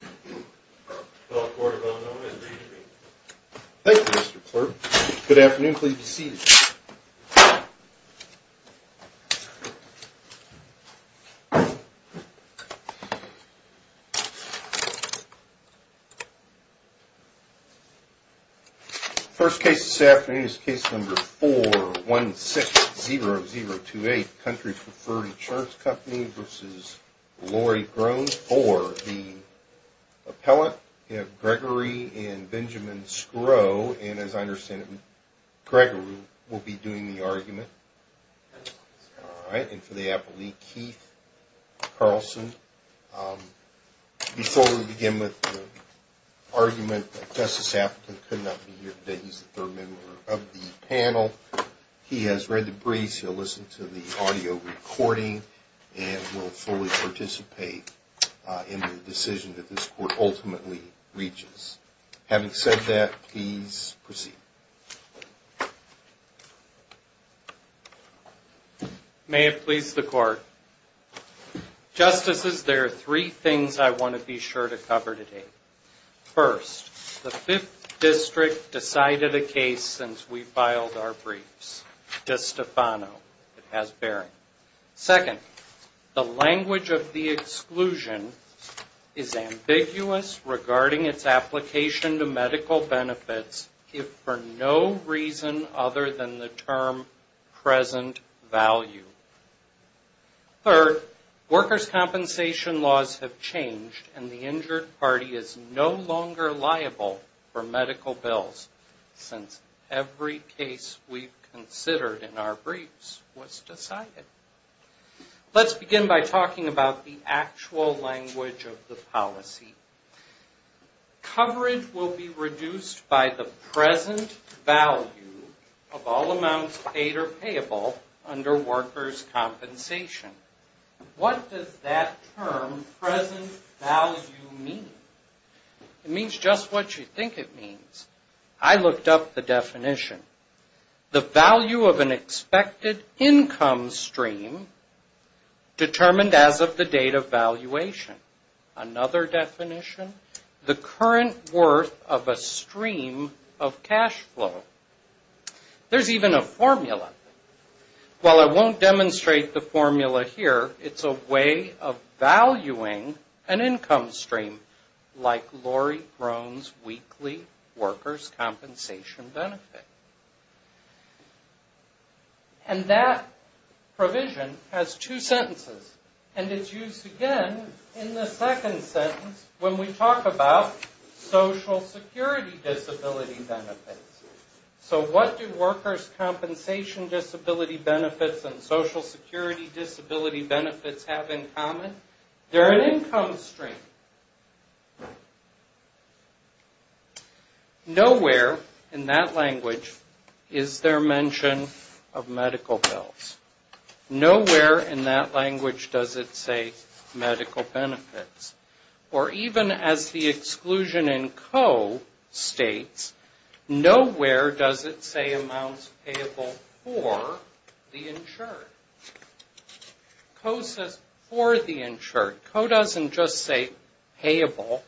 Thank you, Mr. Clerk. Good afternoon. Please be seated. First case this afternoon is case number 4160028, Country Preferred Insurance Company v. Lori Groen for the appellate, Gregory and Benjamin Skro. And as I understand it, Gregory will be doing the argument. And for the appellate, Keith Carlson. Before we begin with the argument that Justice Appleton could not be here today, he's the third member of the panel. He has read the briefs, he'll listen to the audio recording, and will fully participate in the decision that this Court ultimately reaches. Having said that, please proceed. May it please the Court. Justices, there are three things I want to be sure to cover today. First, the Fifth District decided a case since we filed our briefs. De Stefano, it has bearing. Second, the language of the exclusion is ambiguous regarding its application to medical benefits if for no reason other than the term present value. Third, workers' compensation laws have no longer liable for medical bills since every case we've considered in our briefs was decided. Let's begin by talking about the actual language of the policy. Coverage will be reduced by the present value of all amounts paid or payable under workers' compensation. What does that term, present value, mean? It means just what you think it means. I looked up the definition. The value of an expected income stream determined as of the date of valuation. Another definition, the current worth of a stream of cash flow. There's even a formula. While I won't demonstrate the formula here, it's a way of valuing an income stream like Lori Grohn's weekly workers' compensation benefit. That provision has two sentences and is used again in the second sentence when we talk about Social Security disability benefits. So what do workers' compensation disability benefits and Social Security disability benefits have in common? They're an income stream. Nowhere in that language is there mention of medical bills. Nowhere in that language does it say medical benefits. Or even as the word goes, nowhere does it say amounts payable for the insured. Co says for the insured. Co doesn't just say payable.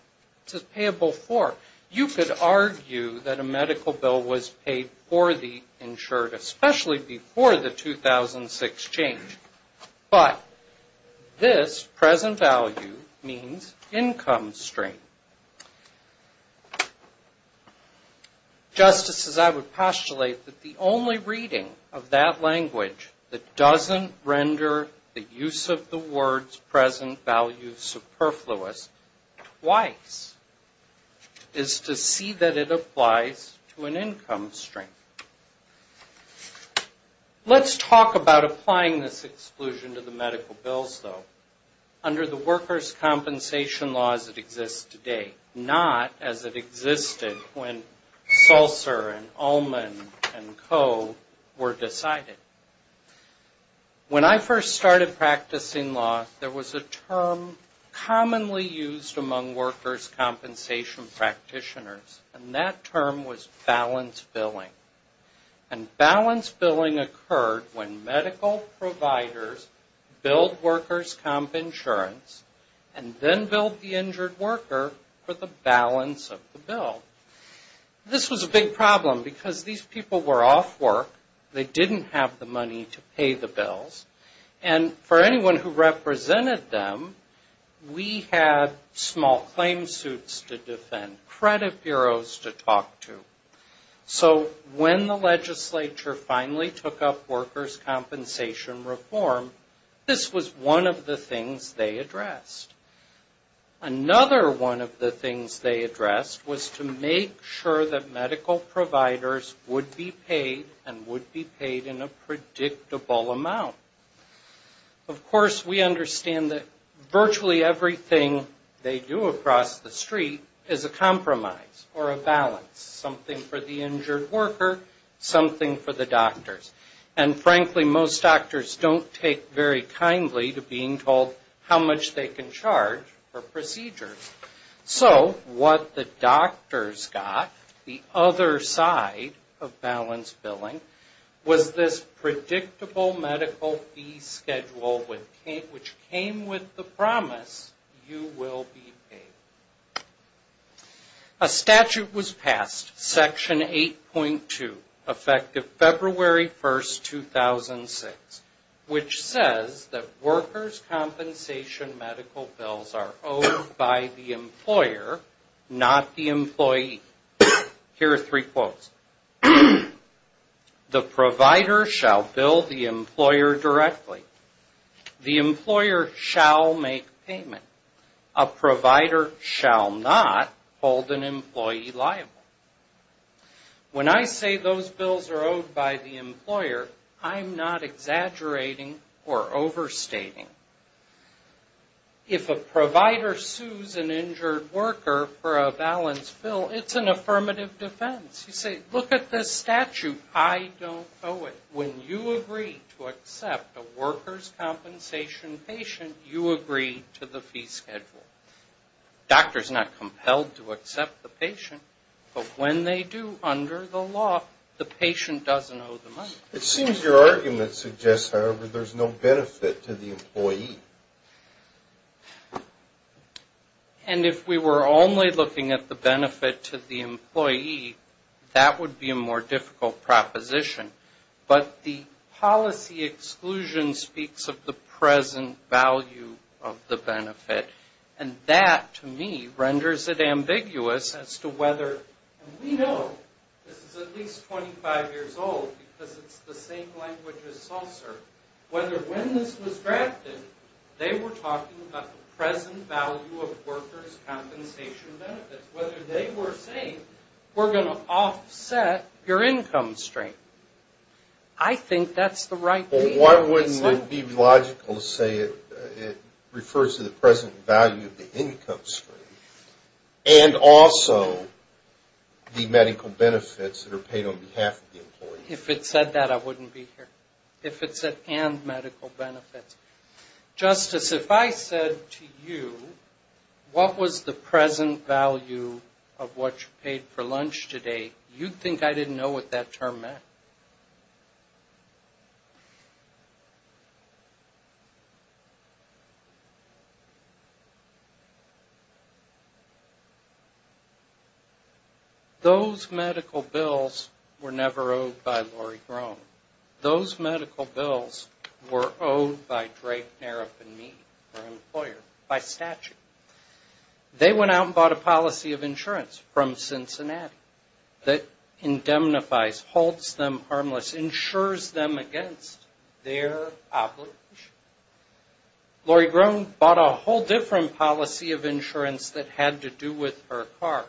It says payable for. You could argue that a medical bill was paid for the insured, especially before the 2006 change. But this present value means income stream. Just as I would postulate that the only reading of that language that doesn't render the use of the words present value superfluous twice is to see that it applies to an income stream. Let's talk about applying this exclusion to the medical bills though. Under the workers' compensation laws that exist today. Not as it existed when SULSR and Ullman and Co were decided. When I first started practicing law, there was a term commonly used among workers' compensation practitioners. And that term was balance billing. And balance providers billed workers' comp insurance and then billed the injured worker for the balance of the bill. This was a big problem because these people were off work. They didn't have the money to pay the bills. And for anyone who represented them, we had small claim suits to defend, credit bureaus to talk to. So when the legislature finally took up workers' compensation reform, this was one of the things they addressed. Another one of the things they addressed was to make sure that medical providers would be paid and would be paid in a predictable amount. Of course, we understand that virtually everything they do across the street is a compromise or a balance. Something for the injured worker, something for the doctors. And frankly, most doctors don't take very kindly to being told how much they can charge for procedures. So what the doctors got, the other side of balance billing, was this predictable medical fee schedule which came with the promise, you will be paid. A statute was passed, Section 8.2, effective February 1, 2006, which says that workers' compensation medical bills are owed by the employer, not the employee. Here are three quotes. The provider shall bill the employer directly. The employer shall make payment. A provider shall not hold an employee liable. When I say those bills are owed by the employer, I'm not exaggerating or overstating. If a provider sues an injured worker for a balance bill, it's an affirmative defense. You say, look at this statute. I don't owe it. When you agree to accept a workers' compensation patient, you agree to the fee schedule. Doctors are not compelled to accept the patient, but when they do under the law, the patient doesn't owe the money. It seems your argument suggests, however, there's no benefit to the employee. And if we were only looking at the benefit to the employee, that would be a more difficult proposition. But the policy exclusion speaks of the present value of the benefit. And that, to me, renders it ambiguous as to whether, and we know this is at least 25 years old because it's the same language as Salser, whether when this was drafted, they were talking about the present value of workers' compensation benefits. Whether they were saying, we're going to offset your income stream. I think that's the right thing to say. Why wouldn't it be logical to say it refers to the present value of the income stream and also the medical benefits that are paid on behalf of the employee? If it said that, I wouldn't be here. If it said and medical benefits. Justice, if I said to you, what was the present value of what you paid for lunch today, you'd think I didn't know what that term meant. Those medical bills were never owed by Lori Grone. Those medical bills were owed by Drake Nareff and me, her employer, by statute. They went out and bought a policy of insurance from Cincinnati that indemnifies, holds them harmless, insures them against their oblige. Lori Grone bought a whole different policy of insurance that had to do with her car.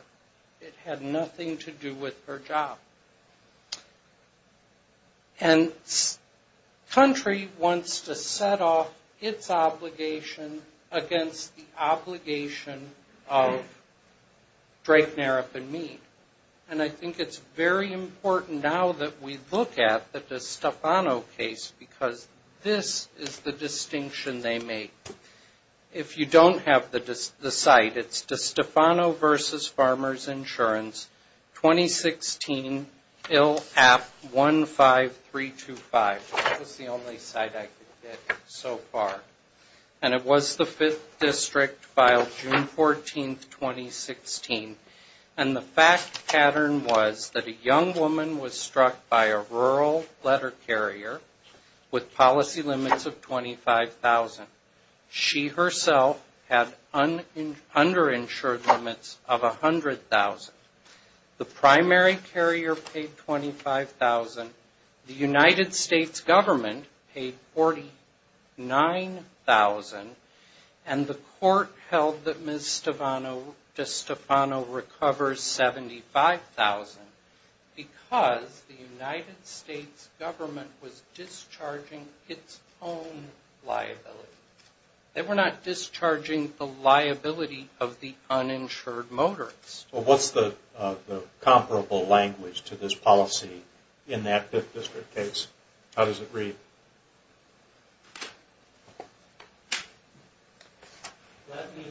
It had nothing to do with her job. And the country wants to set off its obligation against the obligation of Drake Nareff and me. And I think it's very important now that we look at the DeStefano case because this is the distinction they make. If you don't have the site, it's DeStefano versus Farmers Insurance, 2016, bill at 15325. That was the only site I could get so far. And it was the fifth district filed June 14, 2016. And the fact pattern was that a young woman was struck by a rural letter carrier with policy limits of $25,000. She herself had underinsured limits of $100,000. The primary carrier paid $25,000. The United States government paid $49,000. And the court held that Ms. DeStefano recovers $75,000 because the United States government was discharging its own liability. They were not discharging the liability of the uninsured motorist. What's the comparable language to this policy in that fifth district case? How does it read? Let me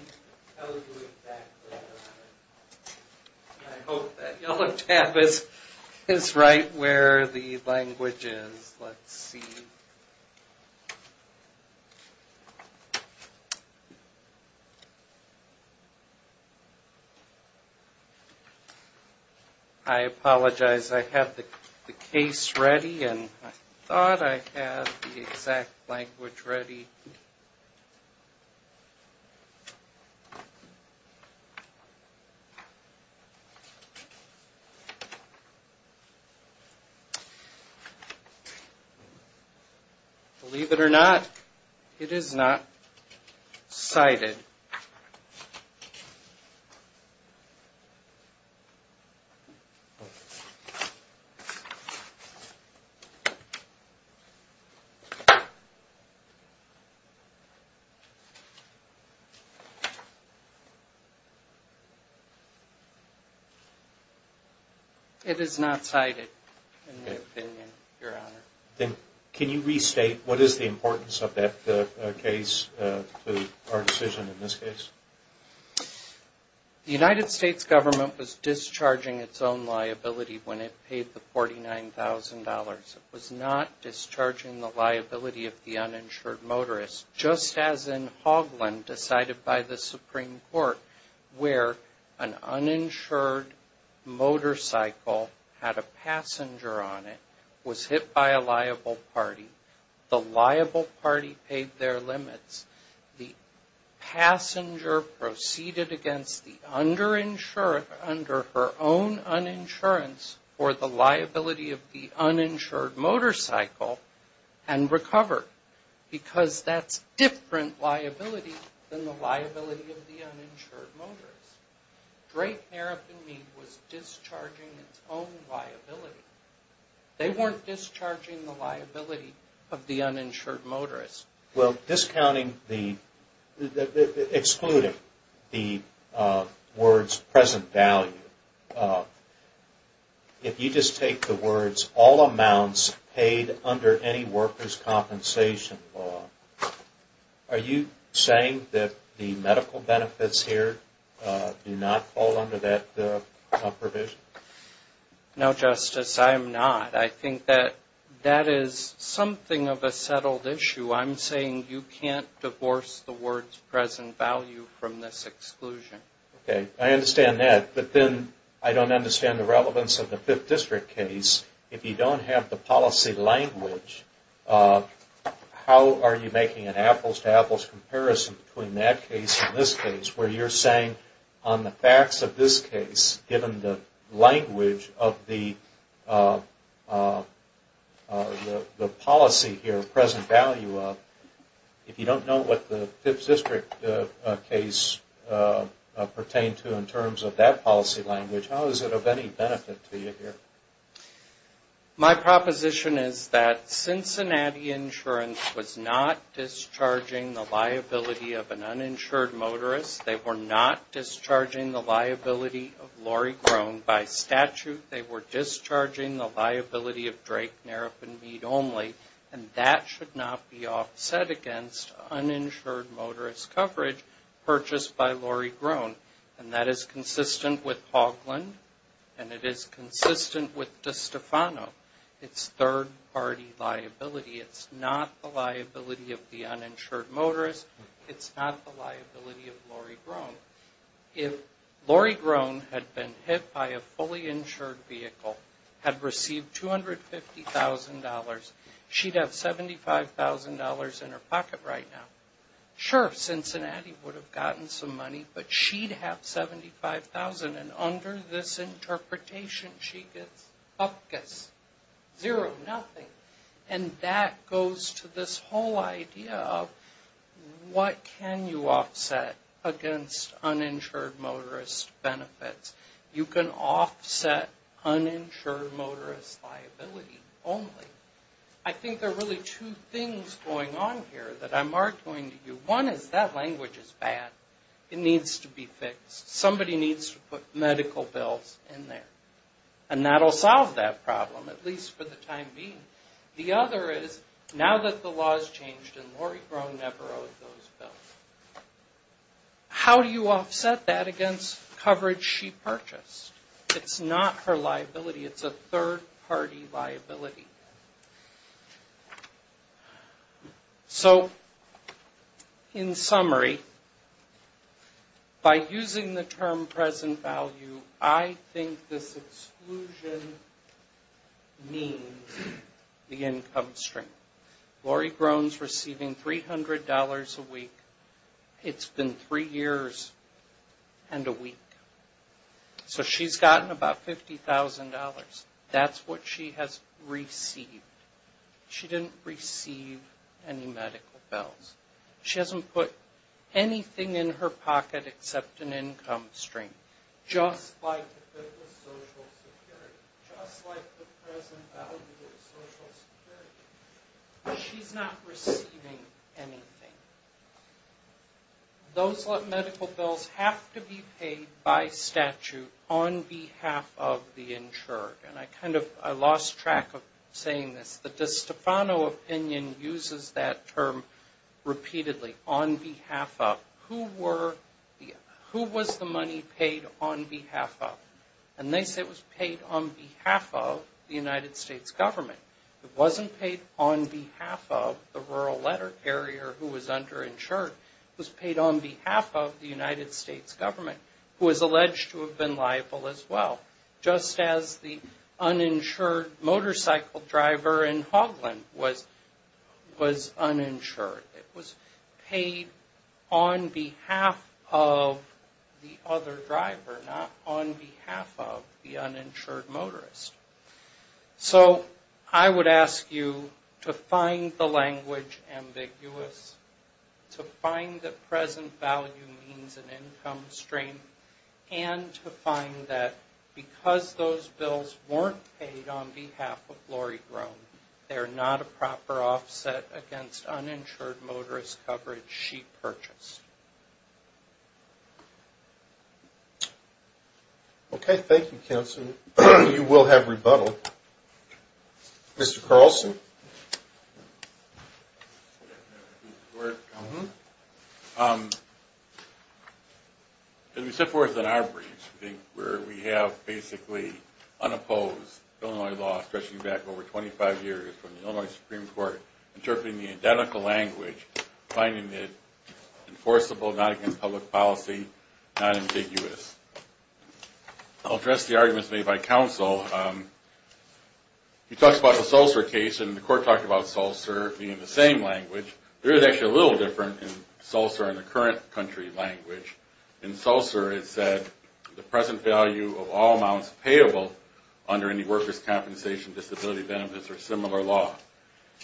tell you exactly. I hope that yellow tab is right where the language is. Let's see. I apologize. I have the case ready and I thought I had the exact language ready. Believe it or not, it is not cited. It is not cited in my opinion, Your Honor. Can you restate what is the importance of that case to our decision in this case? The United States government was discharging its own liability when it paid the $49,000. It was not discharging the liability of the uninsured motorist, just as in Hogland decided by the Supreme Court where an uninsured motorcycle had a passenger on it, was hit by a letter from a liable party. The liable party paid their limits. The passenger proceeded against the underinsured under her own uninsurance for the liability of the uninsured motorcycle and recovered because that's different liability than the liability of the uninsured motorist. Drake, Narrabin, Mead was discharging its own liability. They weren't discharging the liability of the uninsured motorist. Well, excluding the words present value, if you just take the words all amounts paid under any workers' compensation law, are you saying that the medical benefits here do not fall under that provision? No, Justice. I am not. I think that that is something of a settled issue. I'm saying you can't divorce the words present value from this exclusion. Okay. I understand that. But then I don't understand the relevance of the Fifth District case. If you don't have the policy language, how are you making an apples-to-apples comparison between that case and this case where you're saying on the facts of this case, given the language of the policy here, present value of, if you don't know what the Fifth District case pertained to in terms of that policy language, how is it of any benefit to you here? My proposition is that Cincinnati Insurance was not discharging the liability of an uninsured motorist. They were not discharging the liability of Lori Groen by statute. They were discharging the liability of Drake, Narrabin, Mead only. And that should not be offset against uninsured motorist coverage purchased by Lori Groen. And that is consistent with Hoglund, and it is consistent with DeStefano. It's third-party liability. It's not the liability of the uninsured motorist. It's not the liability of Lori Groen. If Lori Groen had been hit by a fully insured vehicle, had received $250,000, she'd have $75,000 in her pocket right now. Sure, Cincinnati would have gotten some money, but she'd have $75,000. And under this interpretation, she gets zero, nothing. And that goes to this whole idea of what can you offset against uninsured motorist benefits. You can offset uninsured motorist liability only. I think there are really two things going on here that I'm arguing to you. One is that language is bad. It needs to be fixed. Somebody needs to put medical bills in there. And that will solve that problem, at least for the time being. The other is, now that the law has changed and Lori Groen never owed those bills, how do you offset that against coverage she purchased? It's not her liability. It's a third-party liability. So, in summary, by using the term present value, I think this exclusion means the income stream. Lori Groen's receiving $300 a week. It's been three years and a week. So she's gotten about $50,000. That's what she has received. She didn't receive any medical bills. She hasn't put anything in her pocket except an income stream. Just like the Social Security. Just like the present value of Social Security. She's not receiving anything. Those medical bills have to be paid by statute on behalf of the insured. And I kind of lost track of saying this, but the Stefano opinion uses that term repeatedly. On behalf of who was the money paid on behalf of? And they say it was paid on behalf of the United States government. It wasn't paid on behalf of the rural letter carrier who was underinsured. It was paid on behalf of the United States government, who is alleged to have been liable as well. Just as the uninsured motorcycle driver in Hogland was uninsured. It was paid on behalf of the other driver, not on behalf of the uninsured motorist. So I would ask you to find the language ambiguous, to find that present value means an income stream, and to find that because those bills weren't paid on behalf of Lori Grone, they're not a proper offset against uninsured motorist coverage she purchased. Okay, thank you, Counselor. You will have rebuttal. Mr. Carlson. As we set forth in our briefs, I think, where we have basically unopposed Illinois law stretching back over 25 years from the Illinois Supreme Court, interpreting the identical language, finding it enforceable, not against public policy, not ambiguous. I'll address the arguments made by Counsel. You talked about the Sulsur case, and the Court talked about Sulsur being the same language. There is actually a little different in Sulsur than the current country language. In Sulsur, it said the present value of all amounts payable under any workers' compensation, disability benefits, or similar law.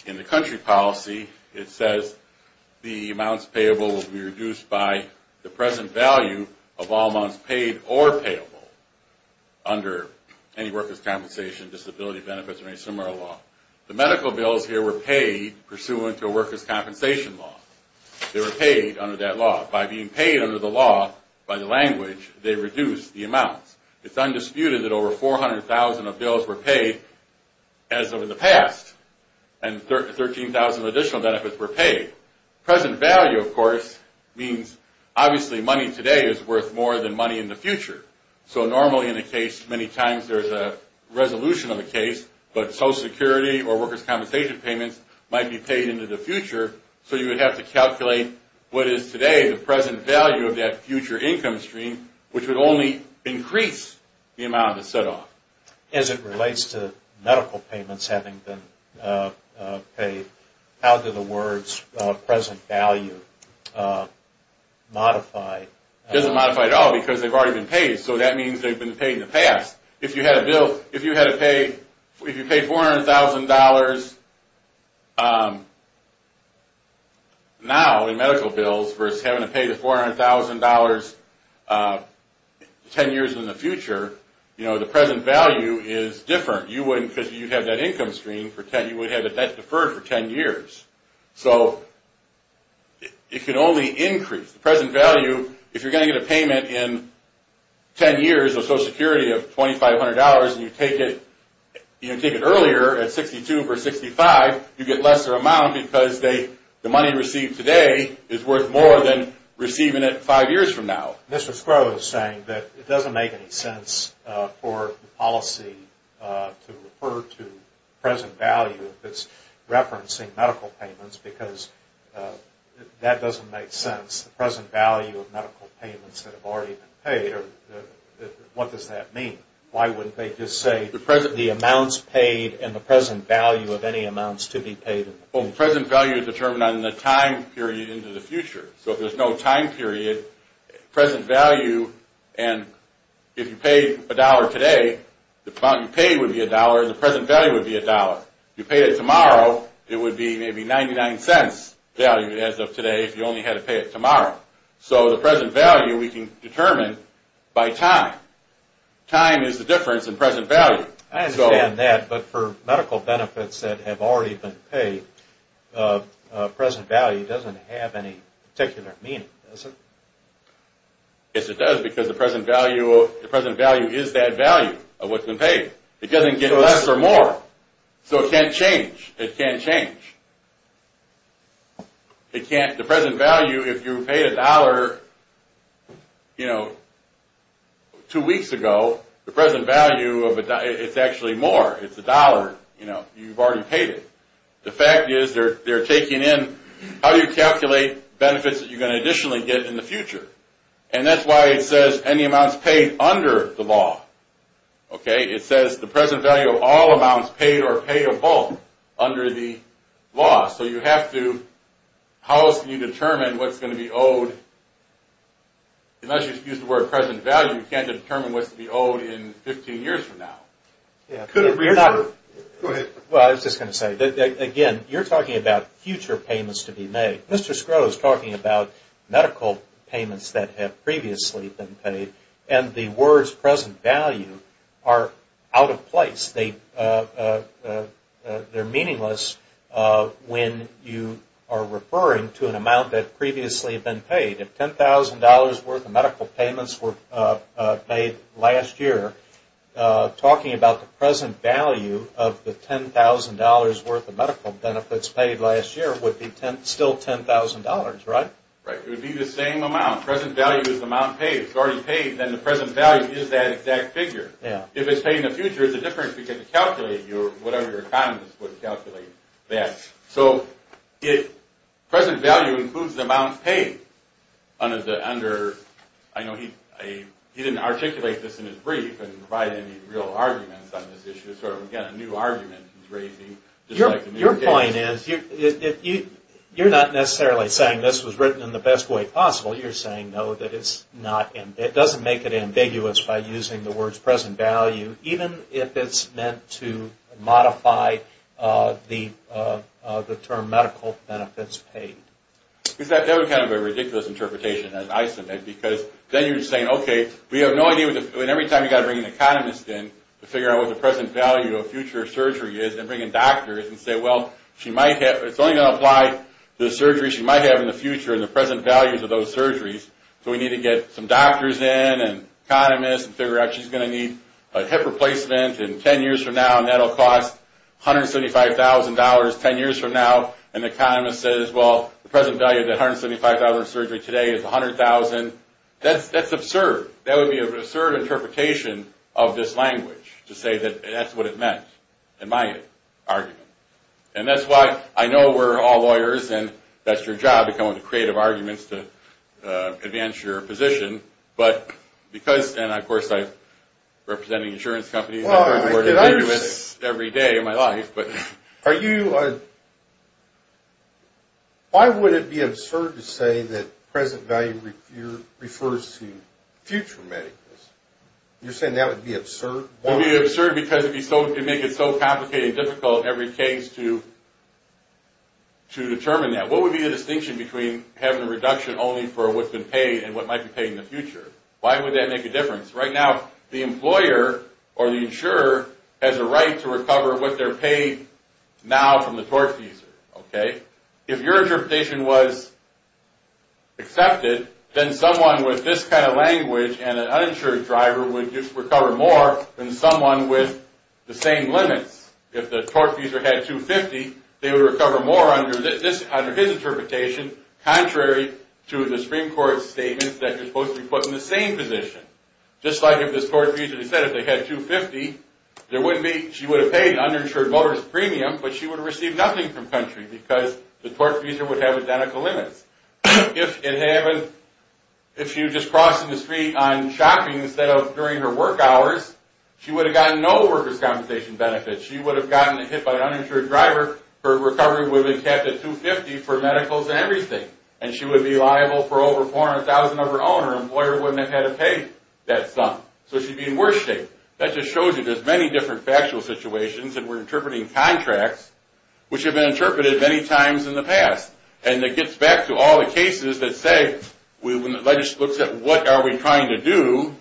In the country policy, it says the amounts payable will be reduced by the present value of all amounts paid or payable under any workers' compensation, disability benefits, or any similar law. The medical bills here were paid pursuant to a workers' compensation law. They were paid under that law. By being paid under the law, by the language, they reduced the amounts. It's undisputed that over 400,000 of bills were paid as of in the past, and 13,000 additional benefits were paid. Present value, of course, means obviously money today is worth more than money in the future. So normally in a case, many times there's a resolution of the case, but Social Security or workers' compensation payments might be paid into the future, so you would have to calculate what is today the present value of that future income stream, which would only increase the amount of the set-off. As it relates to medical payments having been paid, how do the words present value modify? It doesn't modify at all because they've already been paid, so that means they've been paid in the past. If you had to pay $400,000 now in medical bills versus having to pay the $400,000 10 years in the future, the present value is different. Because you have that income stream, you would have that deferred for 10 years. So it could only increase. The present value, if you're going to get a payment in 10 years of Social Security of $2,500 and you take it earlier at $62,000 or $65,000, you get a lesser amount because the money received today is worth more than receiving it 5 years from now. It doesn't make any sense for the policy to refer to present value if it's referencing medical payments because that doesn't make sense. The present value of medical payments that have already been paid, what does that mean? Why wouldn't they just say the amounts paid and the present value of any amounts to be paid? Well, the present value is determined on the time period into the future. So if there's no time period, present value and if you paid $1 today, the amount you paid would be $1 and the present value would be $1. If you paid it tomorrow, it would be maybe $0.99 value as of today if you only had to pay it tomorrow. So the present value we can determine by time. Time is the difference in present value. I understand that, but for medical benefits that have already been paid, present value doesn't have any particular meaning, does it? Yes, it does because the present value is that value of what's been paid. It doesn't get less or more, so it can't change. The present value, if you paid $1 two weeks ago, the present value is actually more. It's $1. You've already paid it. The fact is they're taking in how you calculate benefits that you're going to additionally get in the future. And that's why it says any amounts paid under the law. It says the present value of all amounts paid or paid of both under the law. So how else can you determine what's going to be owed? Unless you use the word present value, you can't determine what's going to be owed in 15 years from now. I was just going to say, again, you're talking about future payments to be made. Mr. Scruggs is talking about medical payments that have previously been paid, and the words present value are out of place. They're meaningless when you are referring to an amount that previously has been paid. If $10,000 worth of medical payments were paid last year, talking about the present value of the $10,000 worth of medical benefits that was paid last year would be still $10,000, right? It would be the same amount. If it's paid in the future, it's a different figure to calculate. So present value includes the amount paid. He didn't articulate this in his brief and provide any real arguments on this issue. Your point is, you're not necessarily saying this was written in the best way possible. It doesn't make it ambiguous by using the words present value, even if it's meant to modify the term medical benefits paid. That would be a ridiculous interpretation. Every time you have to bring an economist in to figure out what the present value of a future surgery is, and bring in doctors and say, it's only going to apply to the surgery she might have in the future and the present values of those surgeries. We need to get some doctors in and economists and figure out she's going to need a hip replacement in 10 years from now, and that will cost $175,000 10 years from now. And the economist says, well, the present value of that $175,000 surgery today is $100,000. That's absurd. That would be an absurd interpretation of this language to say that that's what it meant in my argument. And that's why I know we're all lawyers, and that's your job to come up with creative arguments to advance your position. And, of course, I'm representing insurance companies. I've heard the word ambiguous every day of my life. Why would it be absurd to say that present value refers to future medicals? You're saying that would be absurd? It would be absurd because it would make it so complicated and difficult in every case to determine that. What would be the distinction between having a reduction only for what's been paid and what might be paid in the future? Why would that make a difference? Right now, the employer or the insurer has a right to recover what they're paid now from the tortfeasor. If your interpretation was accepted, then someone with this kind of language and an uninsured driver would recover more than someone with the same limits. If the tortfeasor had $250,000, they would recover more under his interpretation, contrary to the Supreme Court's statements that you're supposed to be put in the same position. Just like if this tortfeasor said if they had $250,000, she would have paid an uninsured motorist premium, but she would have received nothing from country because the tortfeasor would have identical limits. If she was just crossing the street on shopping instead of during her work hours, she would have gotten no workers' compensation benefits. She would have gotten hit by an uninsured driver. Her recovery would have been capped at $250,000 for medicals and everything. And she would be liable for over $400,000 of her own. Her employer wouldn't have had to pay that sum. So she'd be in worse shape. That just shows you there's many different factual situations, and we're interpreting contracts, which have been interpreted many times in the past. And it gets back to all the cases that say when the legislature looks at what are we trying to do,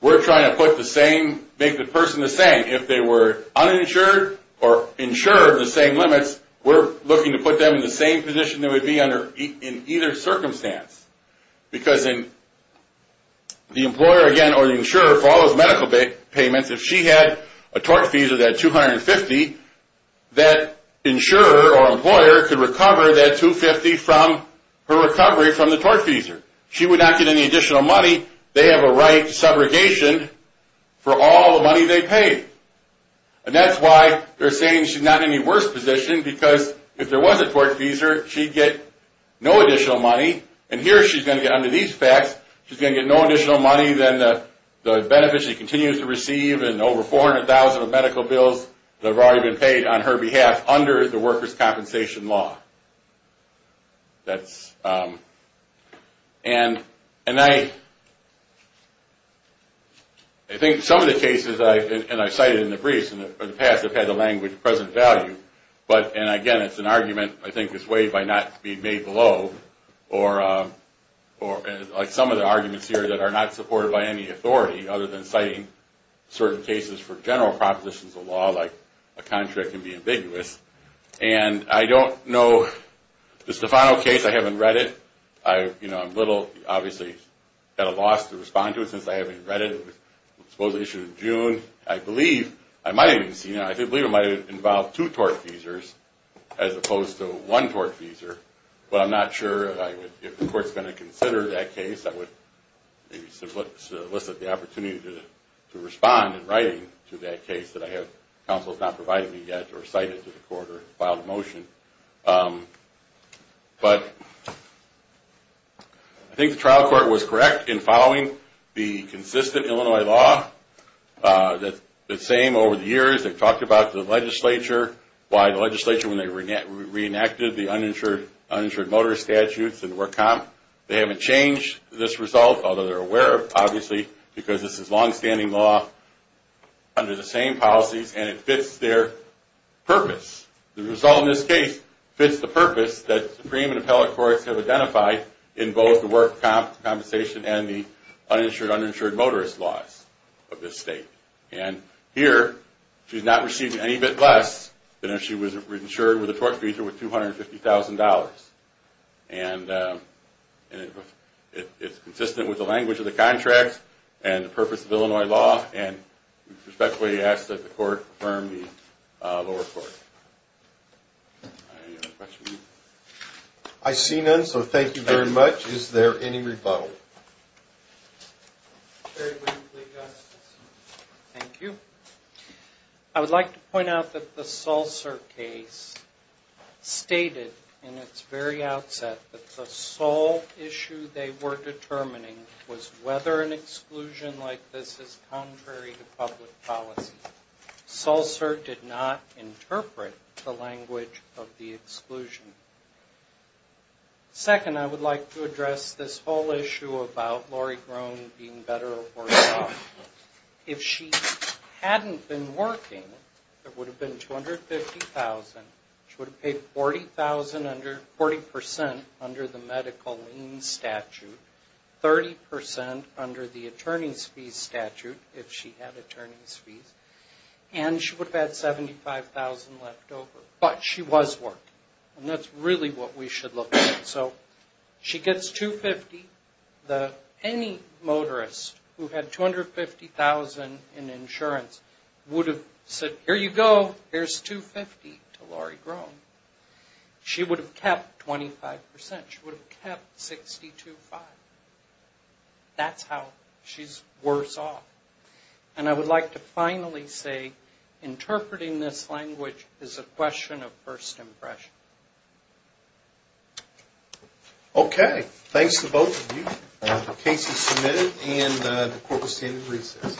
we're trying to make the person the same. If they were uninsured or insured of the same limits, we're looking to put them in the same position they would be in either circumstance. Because the employer, again, or the insurer, for all those medical payments, if she had a tortfeasor that $250,000, that insurer or employer could recover that $250,000 from her recovery from the tortfeasor. She would not get any additional money. They have a right to subrogation for all the money they paid. And that's why they're saying she's not in any worse position, because if there was a tortfeasor, she'd get no additional money. And here she's going to get, under these facts, she's going to get no additional money than the benefits she continues to receive and over $400,000 of medical bills that have already been paid on her behalf under the workers' compensation law. And I think some of the cases, and I've cited in the briefs in the past, have had a language of present value. But, and again, it's an argument, I think, is weighed by not being made below. Or like some of the arguments here that are not supported by any authority other than citing certain cases for general propositions of law, like a contract can be ambiguous. And I don't know, the Stefano case, I haven't read it. I'm a little, obviously, at a loss to respond to it since I haven't read it. It was supposedly issued in June. I believe, I might have even seen it, I believe it might have involved two tortfeasors as opposed to one tortfeasor. But I'm not sure if the court's going to consider that case. I would maybe elicit the opportunity to respond in writing to that case that I have, counsel has not provided me yet or cited to the court or filed a motion. But I think the trial court was correct in following the consistent Illinois law. The same over the years, they've talked about the legislature, why the legislature, when they reenacted the uninsured motor statutes and work comp, they haven't changed this result, although they're aware of it, obviously, because this is longstanding law under the same policies and it fits their purpose. The result in this case fits the purpose that supreme and appellate courts have identified in both the work compensation and the uninsured motorist laws of this state. And here, she's not receiving any bit less than if she was insured with a tortfeasor with $250,000. And it's consistent with the language of the contract and the purpose of Illinois law and respectfully ask that the court affirm the lower court. Any other questions? I see none, so thank you very much. Is there any rebuttal? Very briefly, Justice. Thank you. I would like to point out that the Sulcer case stated in its very outset that the sole issue they were determining was whether an exclusion like this is contrary to public policy. Sulcer did not interpret the language of the exclusion. Second, I would like to address this whole issue about Lori Grone being better or worse off. If she hadn't been working, it would have been $250,000. She would have paid 40% under the medical lien statute, 30% under the attorney's fees statute, if she had attorney's fees, and she would have had $75,000 left over. But she was working, and that's really what we should look at. So she gets $250,000. Any motorist who had $250,000 in insurance would have said, here you go, here's $250,000 to Lori Grone. She would have kept 25%. She would have kept $62,500. That's how she's worse off. And I would like to finally say interpreting this language is a question of first impression. Okay, thanks to both of you. The case is submitted, and the court will stand in recess.